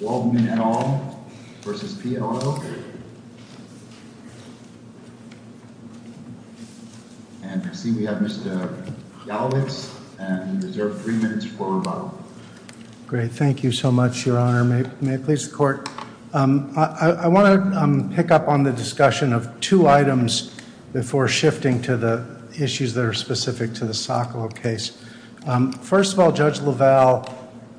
Waldman, et al. v. Pia, et al. And I see we have Mr. Galovitz, and you reserve three minutes for rebuttal. Great, thank you so much, Your Honor. May it please the Court. I want to pick up on the discussion of two items before shifting to the issues that are specific to the Sokolow case. First of all, Judge LaValle,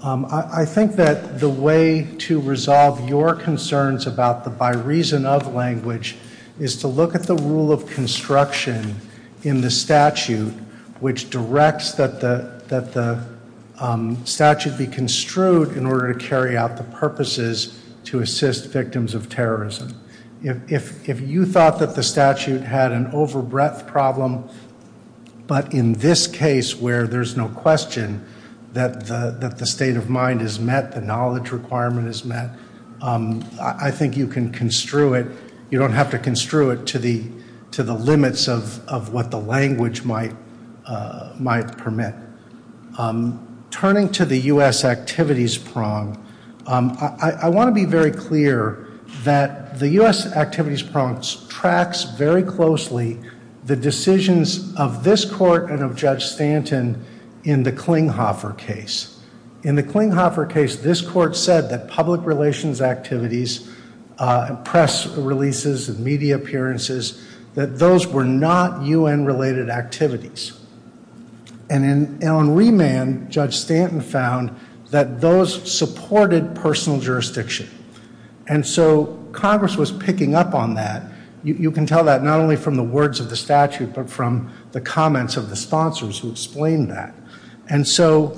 I think that the way to resolve your concerns about the by reason of language is to look at the rule of construction in the statute which directs that the statute be construed in order to carry out the purposes to assist victims of terrorism. If you thought that the statute had an over breadth problem, but in this case where there's no question that the state of mind is met, the knowledge requirement is met, I think you can construe it. You don't have to construe it to the limits of what the language might permit. Turning to the U.S. activities prong, I want to be very clear that the U.S. activities prong tracks very closely the decisions of this Court and of Judge Stanton in the Klinghoffer case. In the Klinghoffer case, this Court said that public relations activities, press releases, media appearances, that those were not U.N. related activities. And in Allen Remand, Judge Stanton found that those supported personal jurisdiction. And so Congress was picking up on that. You can tell that not only from the words of the statute, but from the comments of the sponsors who explained that. And so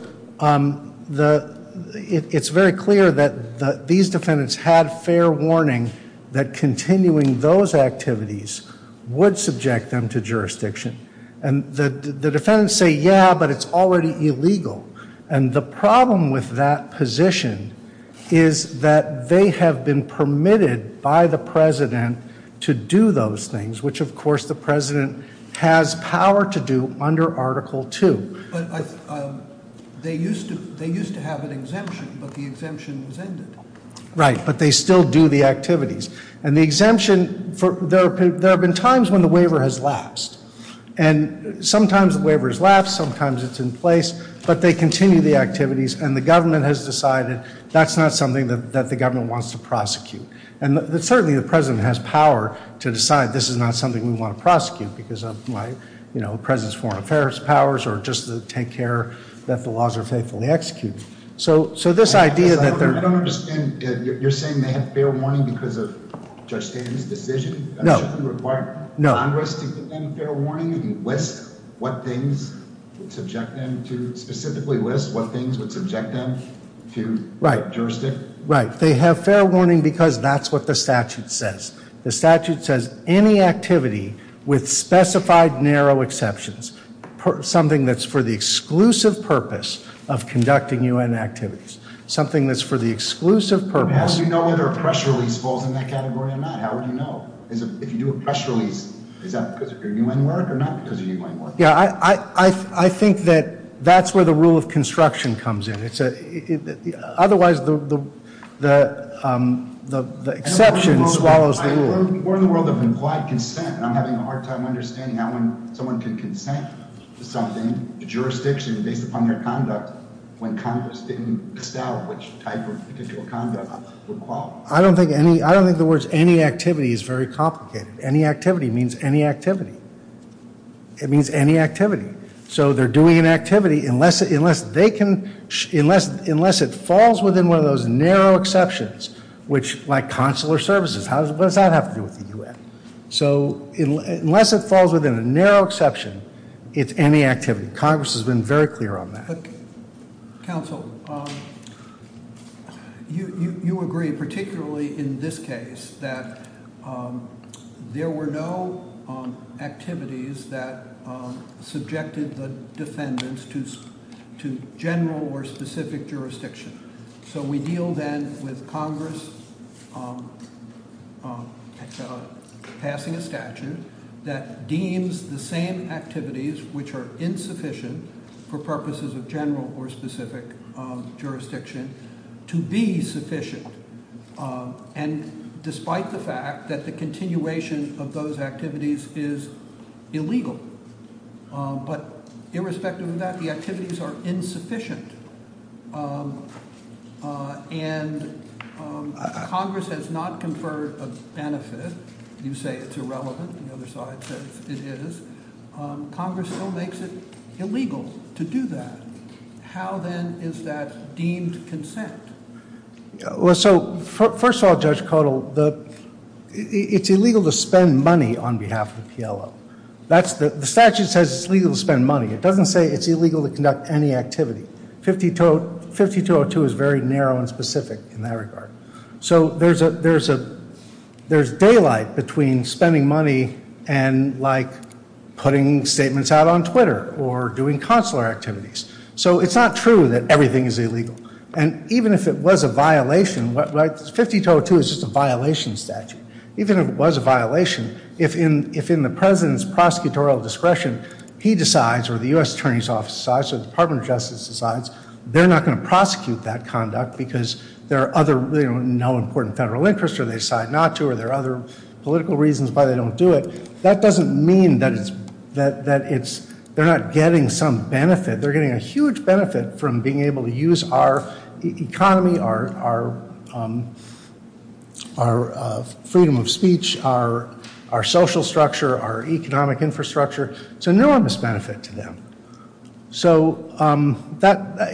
it's very clear that these defendants had fair warning that continuing those activities would subject them to jurisdiction. And the defendants say, yeah, but it's already illegal. And the problem with that position is that they have been permitted by the President to do those things, which of course the President has power to do under Article 2. But they used to have an exemption, but the exemption was ended. Right, but they still do the activities. And the exemption, there have been times when the waiver has lapsed. And sometimes the waiver has lapsed, sometimes it's in place, but they continue the activities, and the government has decided that's not something that the government wants to prosecute. And certainly the President has power to decide this is not something we want to prosecute because of the President's foreign affairs powers or just to take care that the laws are faithfully executed. So this idea that they're- I don't understand. You're saying they have fair warning because of Judge Stanton's decision? No. Shouldn't it require Congress to give them fair warning and list what things would subject them to, specifically list what things would subject them to jurisdiction? Right, they have fair warning because that's what the statute says. The statute says any activity with specified narrow exceptions, something that's for the exclusive purpose of conducting U.N. activities, something that's for the exclusive purpose- How do you know whether a press release falls in that category or not? How would you know? If you do a press release, is that because of your U.N. work or not because of your U.N. work? Yeah, I think that that's where the rule of construction comes in. Otherwise, the exception swallows the rule. We're in the world of implied consent and I'm having a hard time understanding how someone can consent to something, jurisdiction based upon their conduct, when Congress didn't decide which type of particular conduct would qualify. I don't think the words any activity is very complicated. Any activity means any activity. It means any activity. So they're doing an activity unless it falls within one of those narrow exceptions, which like consular services, what does that have to do with the U.N.? So unless it falls within a narrow exception, it's any activity. Congress has been very clear on that. Counsel, you agree, particularly in this case, that there were no activities that subjected the defendants to general or specific jurisdiction. So we deal then with Congress passing a statute that deems the same activities which are insufficient for purposes of general or specific jurisdiction to be sufficient. And despite the fact that the continuation of those activities is illegal. But irrespective of that, the activities are insufficient. And Congress has not conferred a benefit. You say it's irrelevant. The other side says it is. Congress still makes it illegal to do that. How then is that deemed consent? Well, so first of all, Judge Caudill, it's illegal to spend money on behalf of the PLO. The statute says it's legal to spend money. It doesn't say it's illegal to conduct any activity. 5202 is very narrow and specific in that regard. So there's daylight between spending money and like putting statements out on Twitter or doing consular activities. So it's not true that everything is illegal. And even if it was a violation, 5202 is just a violation statute. Even if it was a violation, if in the president's prosecutorial discretion, he decides or the U.S. Attorney's Office decides or the Department of Justice decides, they're not going to prosecute that conduct because there are no important federal interests or they decide not to or there are other political reasons why they don't do it. That doesn't mean that they're not getting some benefit. They're getting a huge benefit from being able to use our economy, our freedom of speech, our social structure, our economic infrastructure. It's a enormous benefit to them. So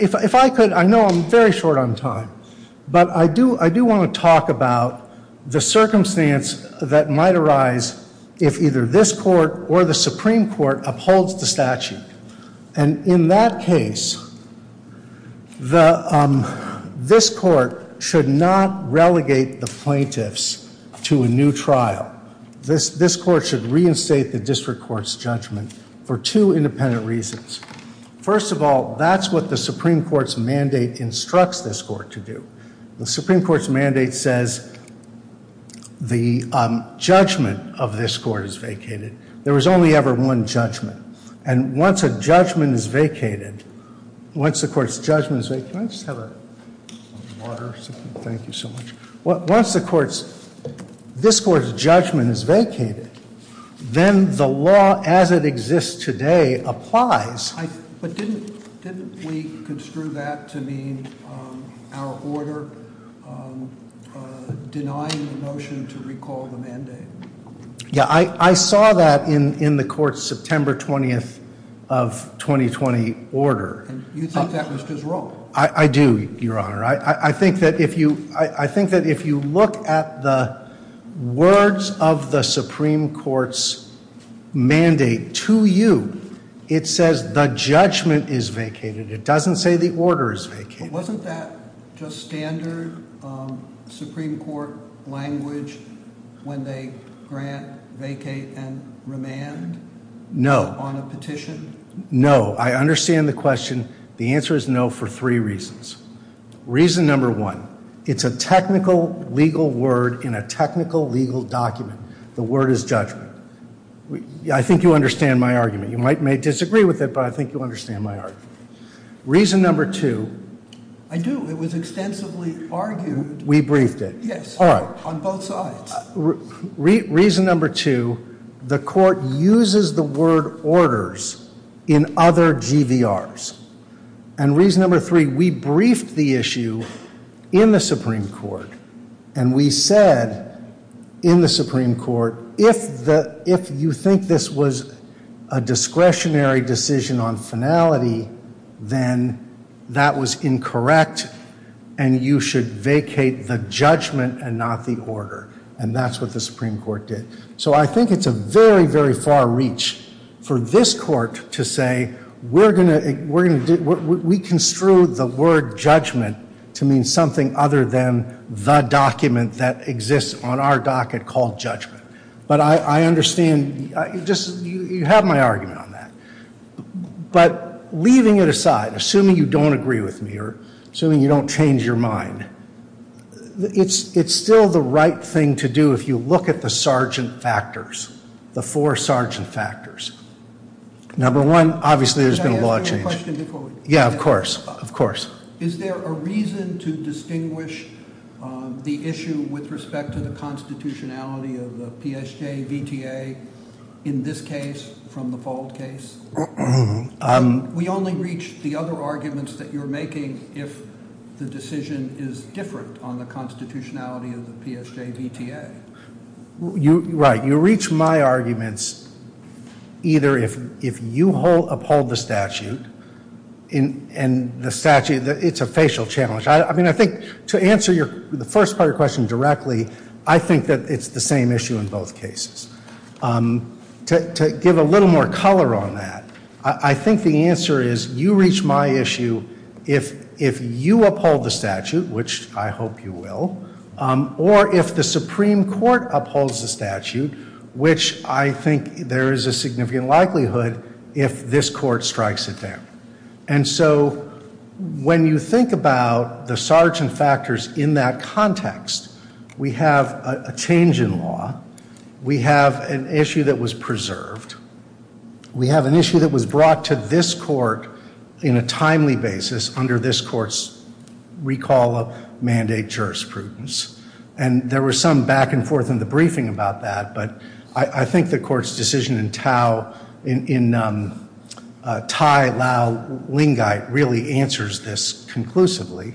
if I could, I know I'm very short on time, but I do want to talk about the circumstance that might arise if either this court or the Supreme Court upholds the statute. And in that case, this court should not relegate the plaintiffs to a new trial. This court should reinstate the district court's judgment for two independent reasons. First of all, that's what the Supreme Court's mandate instructs this court to do. The Supreme Court's mandate says the judgment of this court is vacated. There is only ever one judgment. And once a judgment is vacated, once the court's judgment is vacated, can I just have a water, thank you so much. Once the court's, this court's judgment is vacated, then the law as it exists today applies. But didn't we construe that to mean our order denying the motion to recall the mandate? Yeah, I saw that in the court's September 20th of 2020 order. You thought that was just wrong? I do, Your Honor. I think that if you look at the words of the Supreme Court's mandate to you, it says the judgment is vacated. It doesn't say the order is vacated. Wasn't that just standard Supreme Court language when they grant, vacate, and remand? No. On a petition? No. I understand the question. The answer is no for three reasons. Reason number one, it's a technical legal word in a technical legal document. The word is judgment. I think you understand my argument. You may disagree with it, but I think you understand my argument. Reason number two. I do. It was extensively argued. We briefed it. Yes. All right. On both sides. Reason number two, the court uses the word orders in other GVRs. And reason number three, we briefed the issue in the Supreme Court, and we said in the Supreme Court, if you think this was a discretionary decision on finality, then that was incorrect, and you should vacate the judgment and not the order. And that's what the Supreme Court did. So I think it's a very, very far reach for this court to say, we're going to, we construed the word judgment to mean something other than the document that exists on our docket called judgment. But I understand, you have my argument on that. But leaving it aside, assuming you don't agree with me, or assuming you don't change your mind, it's still the right thing to do if you look at the sergeant factors, the four sergeant factors. Number one, obviously there's been a law change. Yeah, of course. Of course. Is there a reason to distinguish the issue with respect to the constitutionality of the PSJ VTA in this case from the FOLD case? We only reach the other arguments that you're making if the decision is different on the constitutionality of the PSJ VTA. Right. You reach my arguments either if you uphold the statute, and the statute, it's a facial challenge. I mean, I think to answer the first part of your question directly, I think that it's the same issue in both cases. To give a little more color on that, I think the answer is you reach my issue if you uphold the statute, which I hope you will, or if the Supreme Court upholds the statute, which I think there is a significant likelihood if this court strikes it down. And so when you think about the sergeant factors in that context, we have a change in law. We have an issue that was preserved. We have an issue that was brought to this court in a timely basis under this court's recall of mandate jurisprudence. And there was some back and forth in the briefing about that, but I think the court's decision in Thai, Lao, Lingai really answers this conclusively.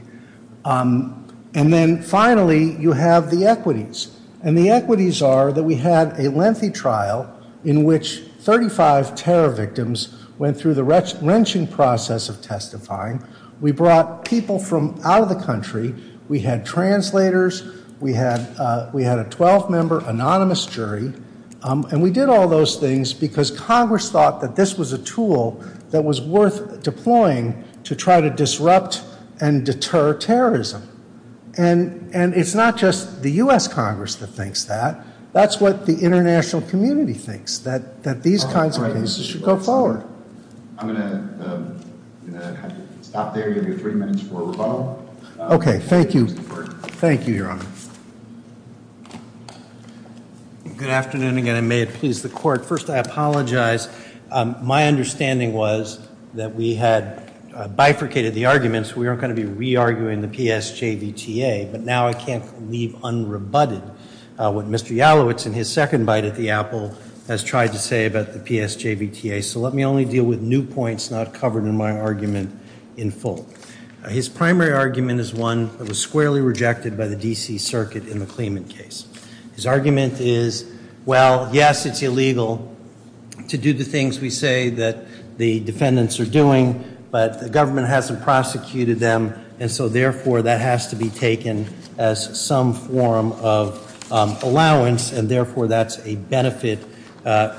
And then finally, you have the equities. And the equities are that we had a lengthy trial in which 35 terror victims went through the wrenching process of testifying. We brought people from out of the country. We had translators. We had a 12-member anonymous jury. And we did all those things because Congress thought that this was a tool that was worth deploying to try to disrupt and deter terrorism. And it's not just the U.S. Congress that thinks that. That's what the international community thinks, that these kinds of cases should go forward. I'm going to have you stop there. You have your three minutes for rebuttal. Okay, thank you. Thank you, Your Honor. Good afternoon again, and may it please the court. First, I apologize. My understanding was that we had bifurcated the arguments. We aren't going to be re-arguing the PSJVTA. But now I can't leave unrebutted what Mr. Yalowitz, in his second bite at the apple, has tried to say about the PSJVTA. So let me only deal with new points not covered in my argument in full. His primary argument is one that was squarely rejected by the D.C. Circuit in the Clement case. His argument is, well, yes, it's illegal to do the things we say that the defendants are doing, but the government hasn't prosecuted them, and so therefore that has to be taken as some form of allowance, and therefore that's a benefit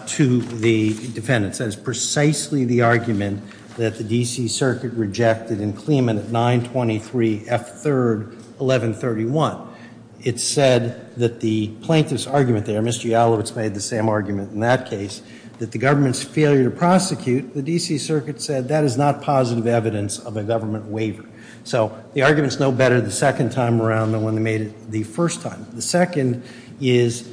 to the defendants. That is precisely the argument that the D.C. Circuit rejected in Clement at 923 F. 3rd, 1131. It said that the plaintiff's argument there, Mr. Yalowitz made the same argument in that case, that the government's failure to prosecute, the D.C. Circuit said, that is not positive evidence of a government waiver. So the argument's no better the second time around than when they made it the first time. The second is,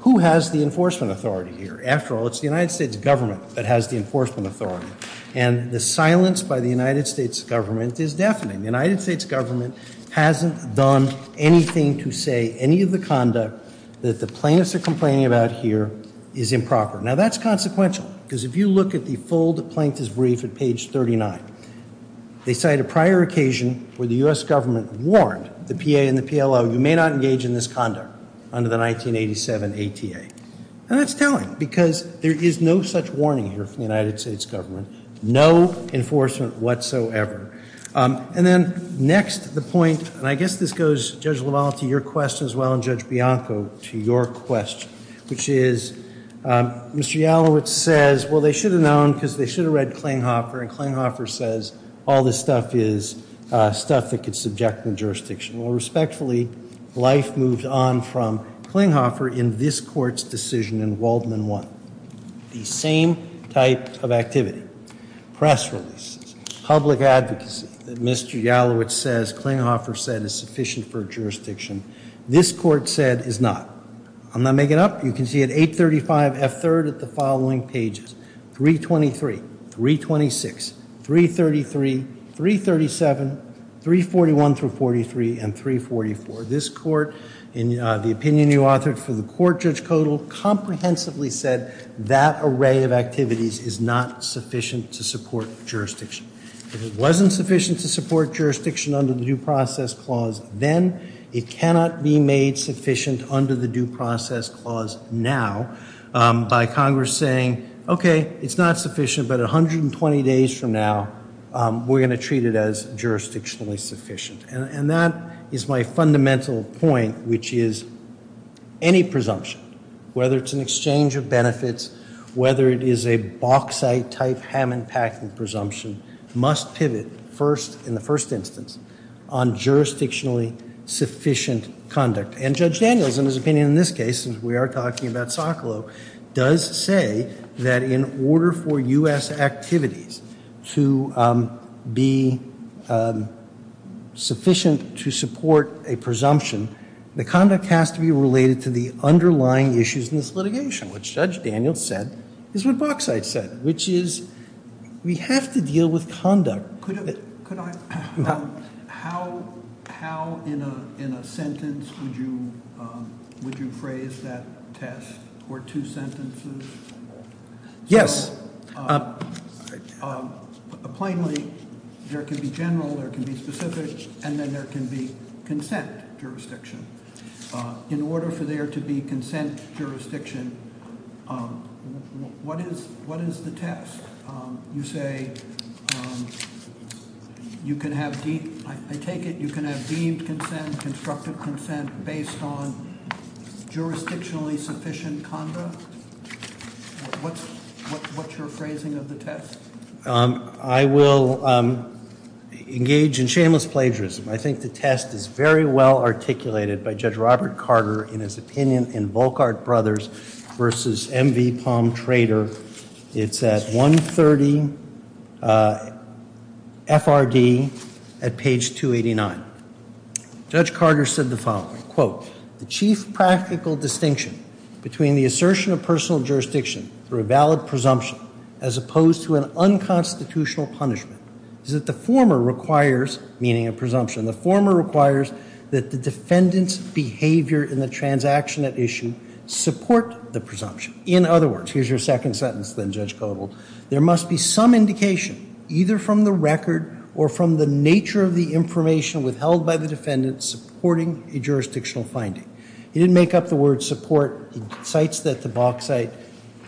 who has the enforcement authority here? After all, it's the United States government that has the enforcement authority, and the silence by the United States government is deafening. The United States government hasn't done anything to say any of the conduct that the plaintiffs are complaining about here is improper. Now, that's consequential, because if you look at the full plaintiff's brief at page 39, they cite a prior occasion where the U.S. government warned the PA and the PLO, you may not engage in this conduct under the 1987 ATA. And that's telling, because there is no such warning here from the United States government, no enforcement whatsoever. And then next, the point, and I guess this goes, Judge LaValle, to your question as well, and Judge Bianco, to your question, which is, Mr. Yalowitz says, well, they should have known, because they should have read Klinghoffer, and Klinghoffer says, all this stuff is stuff that could subject the jurisdiction. Well, respectfully, life moves on from Klinghoffer in this court's decision in Waldman 1. The same type of activity, press releases, public advocacy, that Mr. Yalowitz says Klinghoffer said is sufficient for jurisdiction, this court said is not. I'm not making up. You can see at 835 F. 3rd at the following pages, 323, 326, 333, 337, 341 through 43, and 344. This court, in the opinion you authored for the court, Judge Kodal, comprehensively said that array of activities is not sufficient to support jurisdiction. If it wasn't sufficient to support jurisdiction under the Due Process Clause, then it cannot be made sufficient under the Due Process Clause now by Congress saying, okay, it's not sufficient, but 120 days from now, we're going to treat it as jurisdictionally sufficient. And that is my fundamental point, which is any presumption, whether it's an exchange of benefits, whether it is a bauxite type Hammond-Packard presumption, must pivot first, in the first instance, on jurisdictionally sufficient conduct. And Judge Daniels, in his opinion in this case, as we are talking about Socolow, does say that in order for U.S. activities to be sufficient to support a presumption, the conduct has to be related to the underlying issues in this litigation, which Judge Daniels said is what bauxite said, which is we have to deal with conduct. Could I, how in a sentence would you phrase that test, or two sentences? Yes. Plainly, there can be general, there can be specific, and then there can be consent jurisdiction. In order for there to be consent jurisdiction, what is the test? You say you can have, I take it you can have deemed consent, constructive consent based on jurisdictionally sufficient conduct? What's your phrasing of the test? I will engage in shameless plagiarism. I think the test is very well articulated by Judge Robert Carter, in his opinion in Volckart Brothers versus M.V. Palm Trader. It's at 130 FRD at page 289. Judge Carter said the following, quote, the chief practical distinction between the assertion of personal jurisdiction through a valid presumption, as opposed to an unconstitutional punishment, is that the former requires, meaning a presumption, the former requires that the defendant's behavior in the transaction at issue support the presumption. In other words, here's your second sentence then, Judge Kodold, there must be some indication, either from the record or from the nature of the information withheld by the defendant, supporting a jurisdictional finding. He didn't make up the word support. He cites that to bauxite.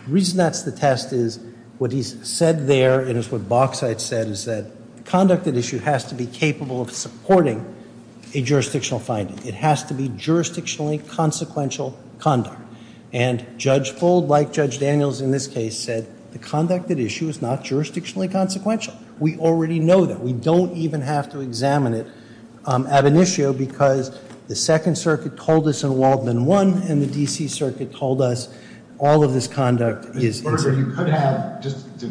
The reason that's the test is what he's said there, and it's what bauxite said, is that the conduct at issue has to be capable of supporting a jurisdictional finding. It has to be jurisdictionally consequential conduct. And Judge Bold, like Judge Daniels in this case, said the conduct at issue is not jurisdictionally consequential. We already know that. We don't even have to examine it ab initio, because the Second Circuit told us in Waldman one, and the D.C. Circuit told us all of this conduct is. You could have, just to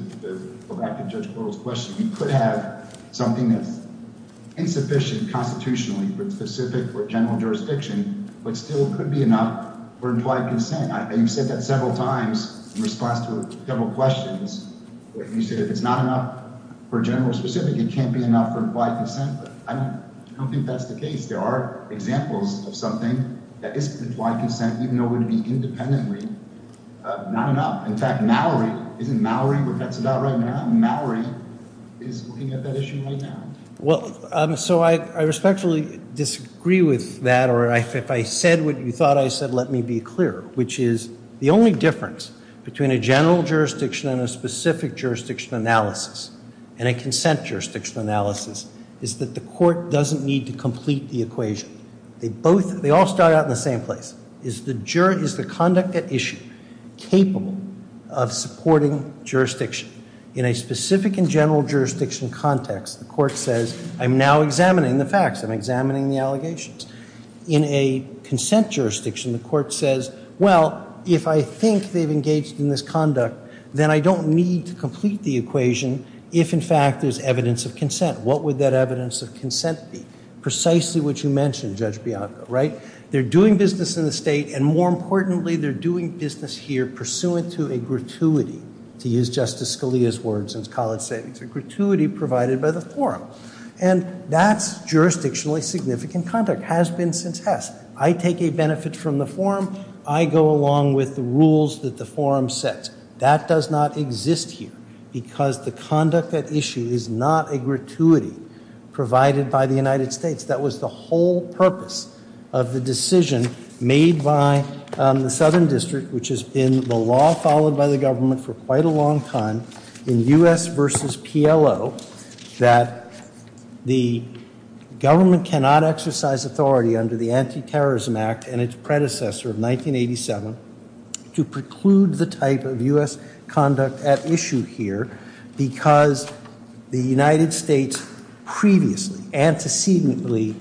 go back to Judge Kodold's question, you could have something that's insufficient constitutionally, but specific for general jurisdiction, but still could be enough for implied consent. You've said that several times in response to several questions. You said if it's not enough for general or specific, it can't be enough for implied consent. I don't think that's the case. There are examples of something that is implied consent, even though it would be independently not enough. In fact, Mallory, isn't Mallory what that's about right now? Mallory is looking at that issue right now. Well, so I respectfully disagree with that, or if I said what you thought I said, let me be clear, which is the only difference between a general jurisdiction and a specific jurisdiction analysis and a consent jurisdiction analysis is that the court doesn't need to complete the equation. They all start out in the same place. Is the conduct at issue capable of supporting jurisdiction? In a specific and general jurisdiction context, the court says, I'm now examining the facts. I'm examining the allegations. In a consent jurisdiction, the court says, well, if I think they've engaged in this conduct, then I don't need to complete the equation if, in fact, there's evidence of consent. What would that evidence of consent be? Precisely what you mentioned, Judge Bianco, right? They're doing business in the state, and more importantly, they're doing business here pursuant to a gratuity, to use Justice Scalia's words in his college savings, a gratuity provided by the forum. And that's jurisdictionally significant conduct, has been since Hess. I take a benefit from the forum. I go along with the rules that the forum sets. That does not exist here because the conduct at issue is not a gratuity provided by the United States. That was the whole purpose of the decision made by the Southern District, which has been the law followed by the government for quite a long time in U.S. versus PLO, that the government cannot exercise authority under the Anti-Terrorism Act and its predecessor of 1987 to preclude the type of U.S. conduct at issue here because the United States previously, antecedently,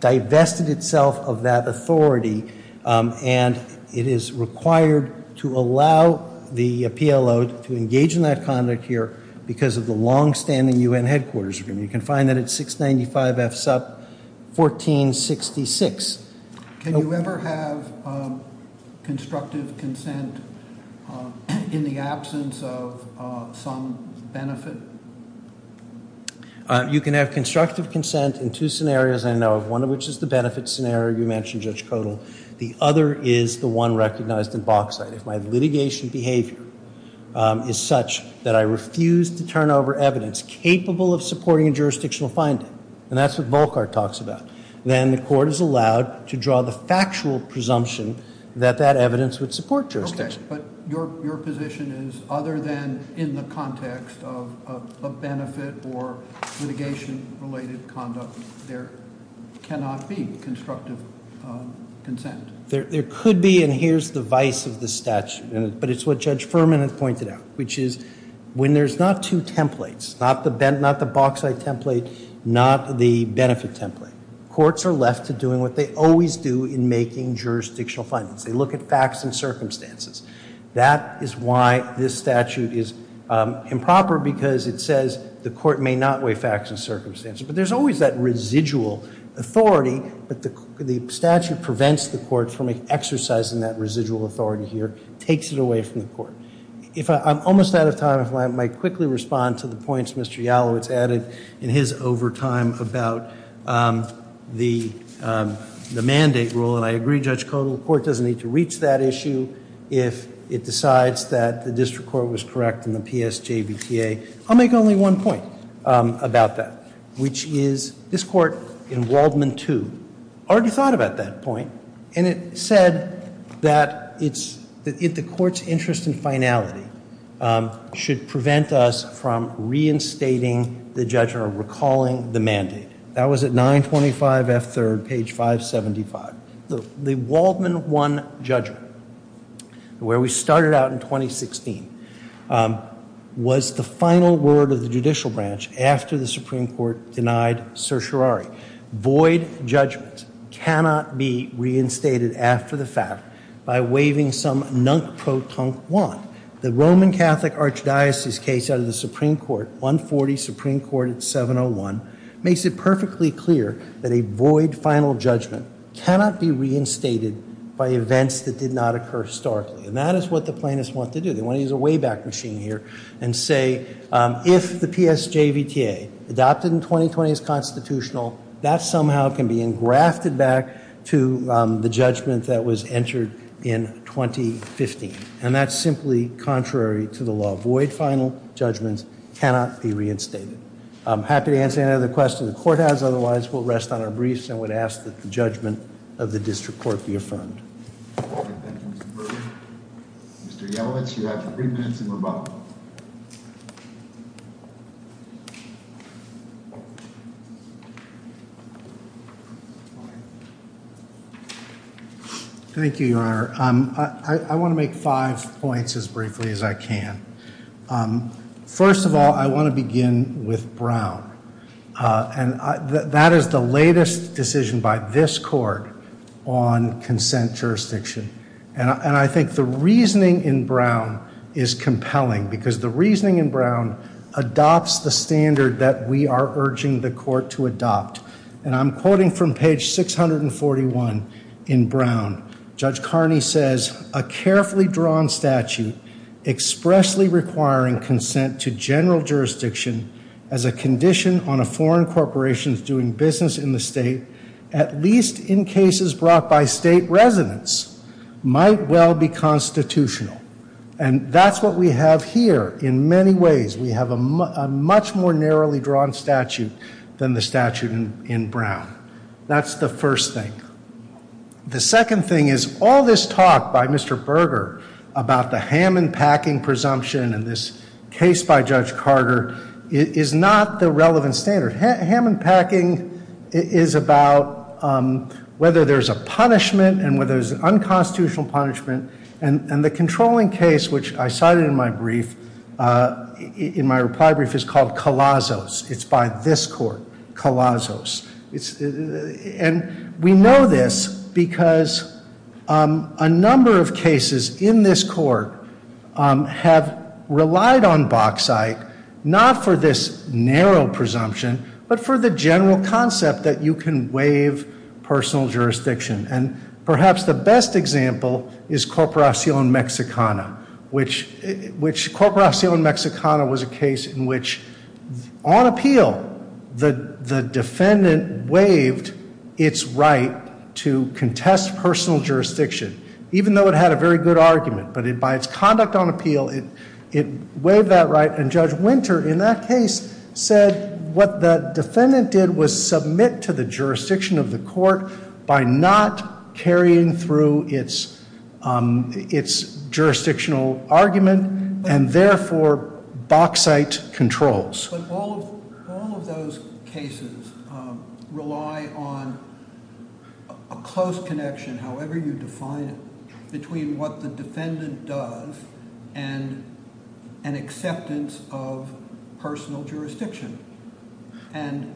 divested itself of that authority, and it is required to allow the PLO to engage in that conduct here because of the longstanding U.N. headquarters agreement. You can find that at 695 F. Supp. 1466. Can you ever have constructive consent in the absence of some benefit? You can have constructive consent in two scenarios I know of, one of which is the benefit scenario you mentioned, Judge Kodal. The other is the one recognized in Bauxite. If my litigation behavior is such that I refuse to turn over evidence capable of supporting a jurisdictional finding, and that's what Volckart talks about, then the court is allowed to draw the factual presumption that that evidence would support jurisdiction. Okay, but your position is other than in the context of a benefit or litigation-related conduct, there cannot be constructive consent. There could be, and here's the vice of the statute, but it's what Judge Furman has pointed out, which is when there's not two templates, not the Bauxite template, not the benefit template, courts are left to doing what they always do in making jurisdictional findings. They look at facts and circumstances. That is why this statute is improper because it says the court may not weigh facts and circumstances, but there's always that residual authority, but the statute prevents the court from exercising that residual authority here, takes it away from the court. If I'm almost out of time, if I might quickly respond to the points Mr. Yalowitz added in his overtime about the mandate rule, and I agree, Judge Kodal, the court doesn't need to reach that issue if it decides that the district court was correct in the PSJBTA. I'll make only one point about that, which is this court in Waldman 2 already thought about that point, and it said that the court's interest in finality should prevent us from reinstating the judgment or recalling the mandate. That was at 925F3rd, page 575. The Waldman 1 judgment, where we started out in 2016, was the final word of the judicial branch after the Supreme Court denied certiorari. Void judgment cannot be reinstated after the fact by waiving some nunk-pro-tunk want. The Roman Catholic Archdiocese case out of the Supreme Court, 140 Supreme Court, 701, makes it perfectly clear that a void final judgment cannot be reinstated by events that did not occur historically, and that is what the plaintiffs want to do. They want to use a way-back machine here and say if the PSJBTA adopted in 2020 is constitutional, that somehow can be engrafted back to the judgment that was entered in 2015, and that's simply contrary to the law. Void final judgments cannot be reinstated. I'm happy to answer any other questions the court has. Otherwise, we'll rest on our briefs and would ask that the judgment of the district court be affirmed. Thank you, Your Honor. I want to make five points as briefly as I can. First of all, I want to begin with Brown, and that is the latest decision by this court on consent jurisdiction, and I think the reasoning in Brown is compelling because the reasoning in Brown adopts the standard that we are urging the court to adopt, and I'm quoting from page 641 in Brown. Judge Carney says a carefully drawn statute expressly requiring consent to general jurisdiction as a condition on a foreign corporation's doing business in the state, at least in cases brought by state residents, might well be constitutional, and that's what we have here in many ways. We have a much more narrowly drawn statute than the statute in Brown. That's the first thing. The second thing is all this talk by Mr. Berger about the ham-and-packing presumption in this case by Judge Carter is not the relevant standard. Ham-and-packing is about whether there's a punishment and whether there's an unconstitutional punishment, and the controlling case, which I cited in my reply brief, is called Calazos. It's by this court, Calazos. And we know this because a number of cases in this court have relied on Boksyte not for this narrow presumption but for the general concept that you can waive personal jurisdiction, and perhaps the best example is Corporacion Mexicana, which Corporacion Mexicana was a case in which, on appeal, the defendant waived its right to contest personal jurisdiction, even though it had a very good argument. But by its conduct on appeal, it waived that right, and Judge Winter in that case said that what the defendant did was submit to the jurisdiction of the court by not carrying through its jurisdictional argument, and therefore Boksyte controls. But all of those cases rely on a close connection, however you define it, between what the defendant does and an acceptance of personal jurisdiction. And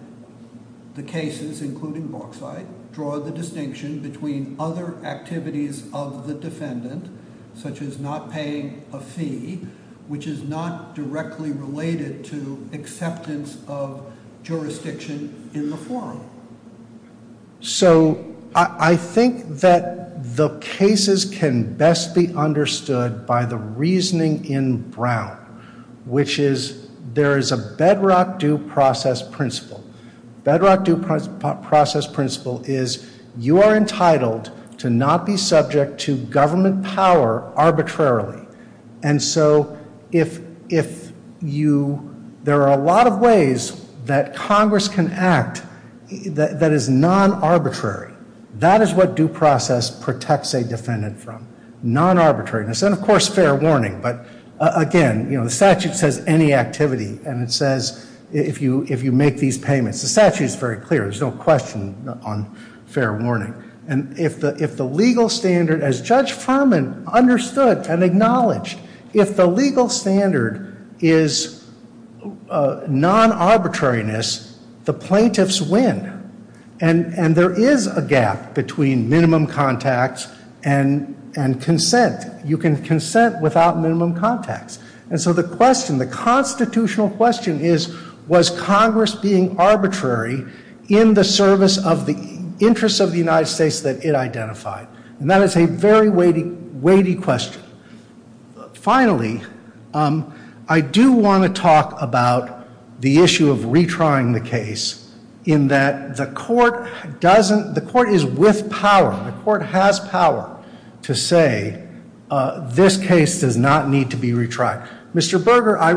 the cases, including Boksyte, draw the distinction between other activities of the defendant, such as not paying a fee, which is not directly related to acceptance of jurisdiction in the forum. So I think that the cases can best be understood by the reasoning in Brown, which is there is a bedrock due process principle. Bedrock due process principle is you are entitled to not be subject to government power arbitrarily. And so if you, there are a lot of ways that Congress can act that is non-arbitrary. That is what due process protects a defendant from, non-arbitrariness, and of course fair warning. But again, the statute says any activity, and it says if you make these payments. The statute is very clear. There is no question on fair warning. And if the legal standard, as Judge Furman understood and acknowledged, if the legal standard is non-arbitrariness, the plaintiffs win. And there is a gap between minimum contacts and consent. You can consent without minimum contacts. And so the question, the constitutional question is, was Congress being arbitrary in the service of the interests of the United States that it identified? And that is a very weighty question. Finally, I do want to talk about the issue of retrying the case, in that the court doesn't, the court is with power. The court has power to say this case does not need to be retried. Mr. Berger, I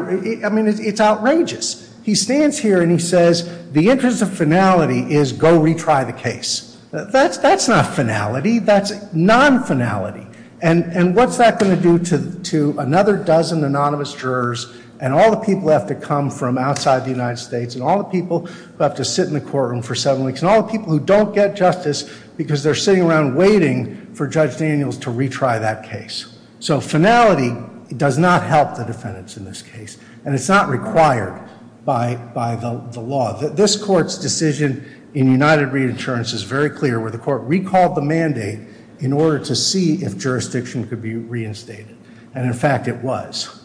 mean, it's outrageous. He stands here and he says the interest of finality is go retry the case. That's not finality. That's non-finality. And what's that going to do to another dozen anonymous jurors, and all the people who have to come from outside the United States, and all the people who have to sit in the courtroom for seven weeks, and all the people who don't get justice because they're sitting around waiting for Judge Daniels to retry that case. So finality does not help the defendants in this case. And it's not required by the law. This court's decision in United Reinsurance is very clear, where the court recalled the mandate in order to see if jurisdiction could be reinstated. And, in fact, it was.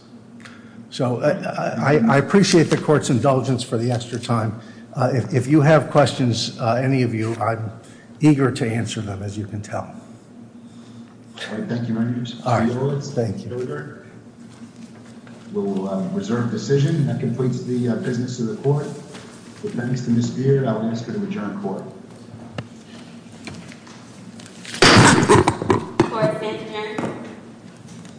So I appreciate the court's indulgence for the extra time. If you have questions, any of you, I'm eager to answer them, as you can tell. All right. Thank you, Mr. Berger. We'll reserve the decision. That completes the business of the court. If none is to misbehave, I will ask for the adjourned court. Court is adjourned.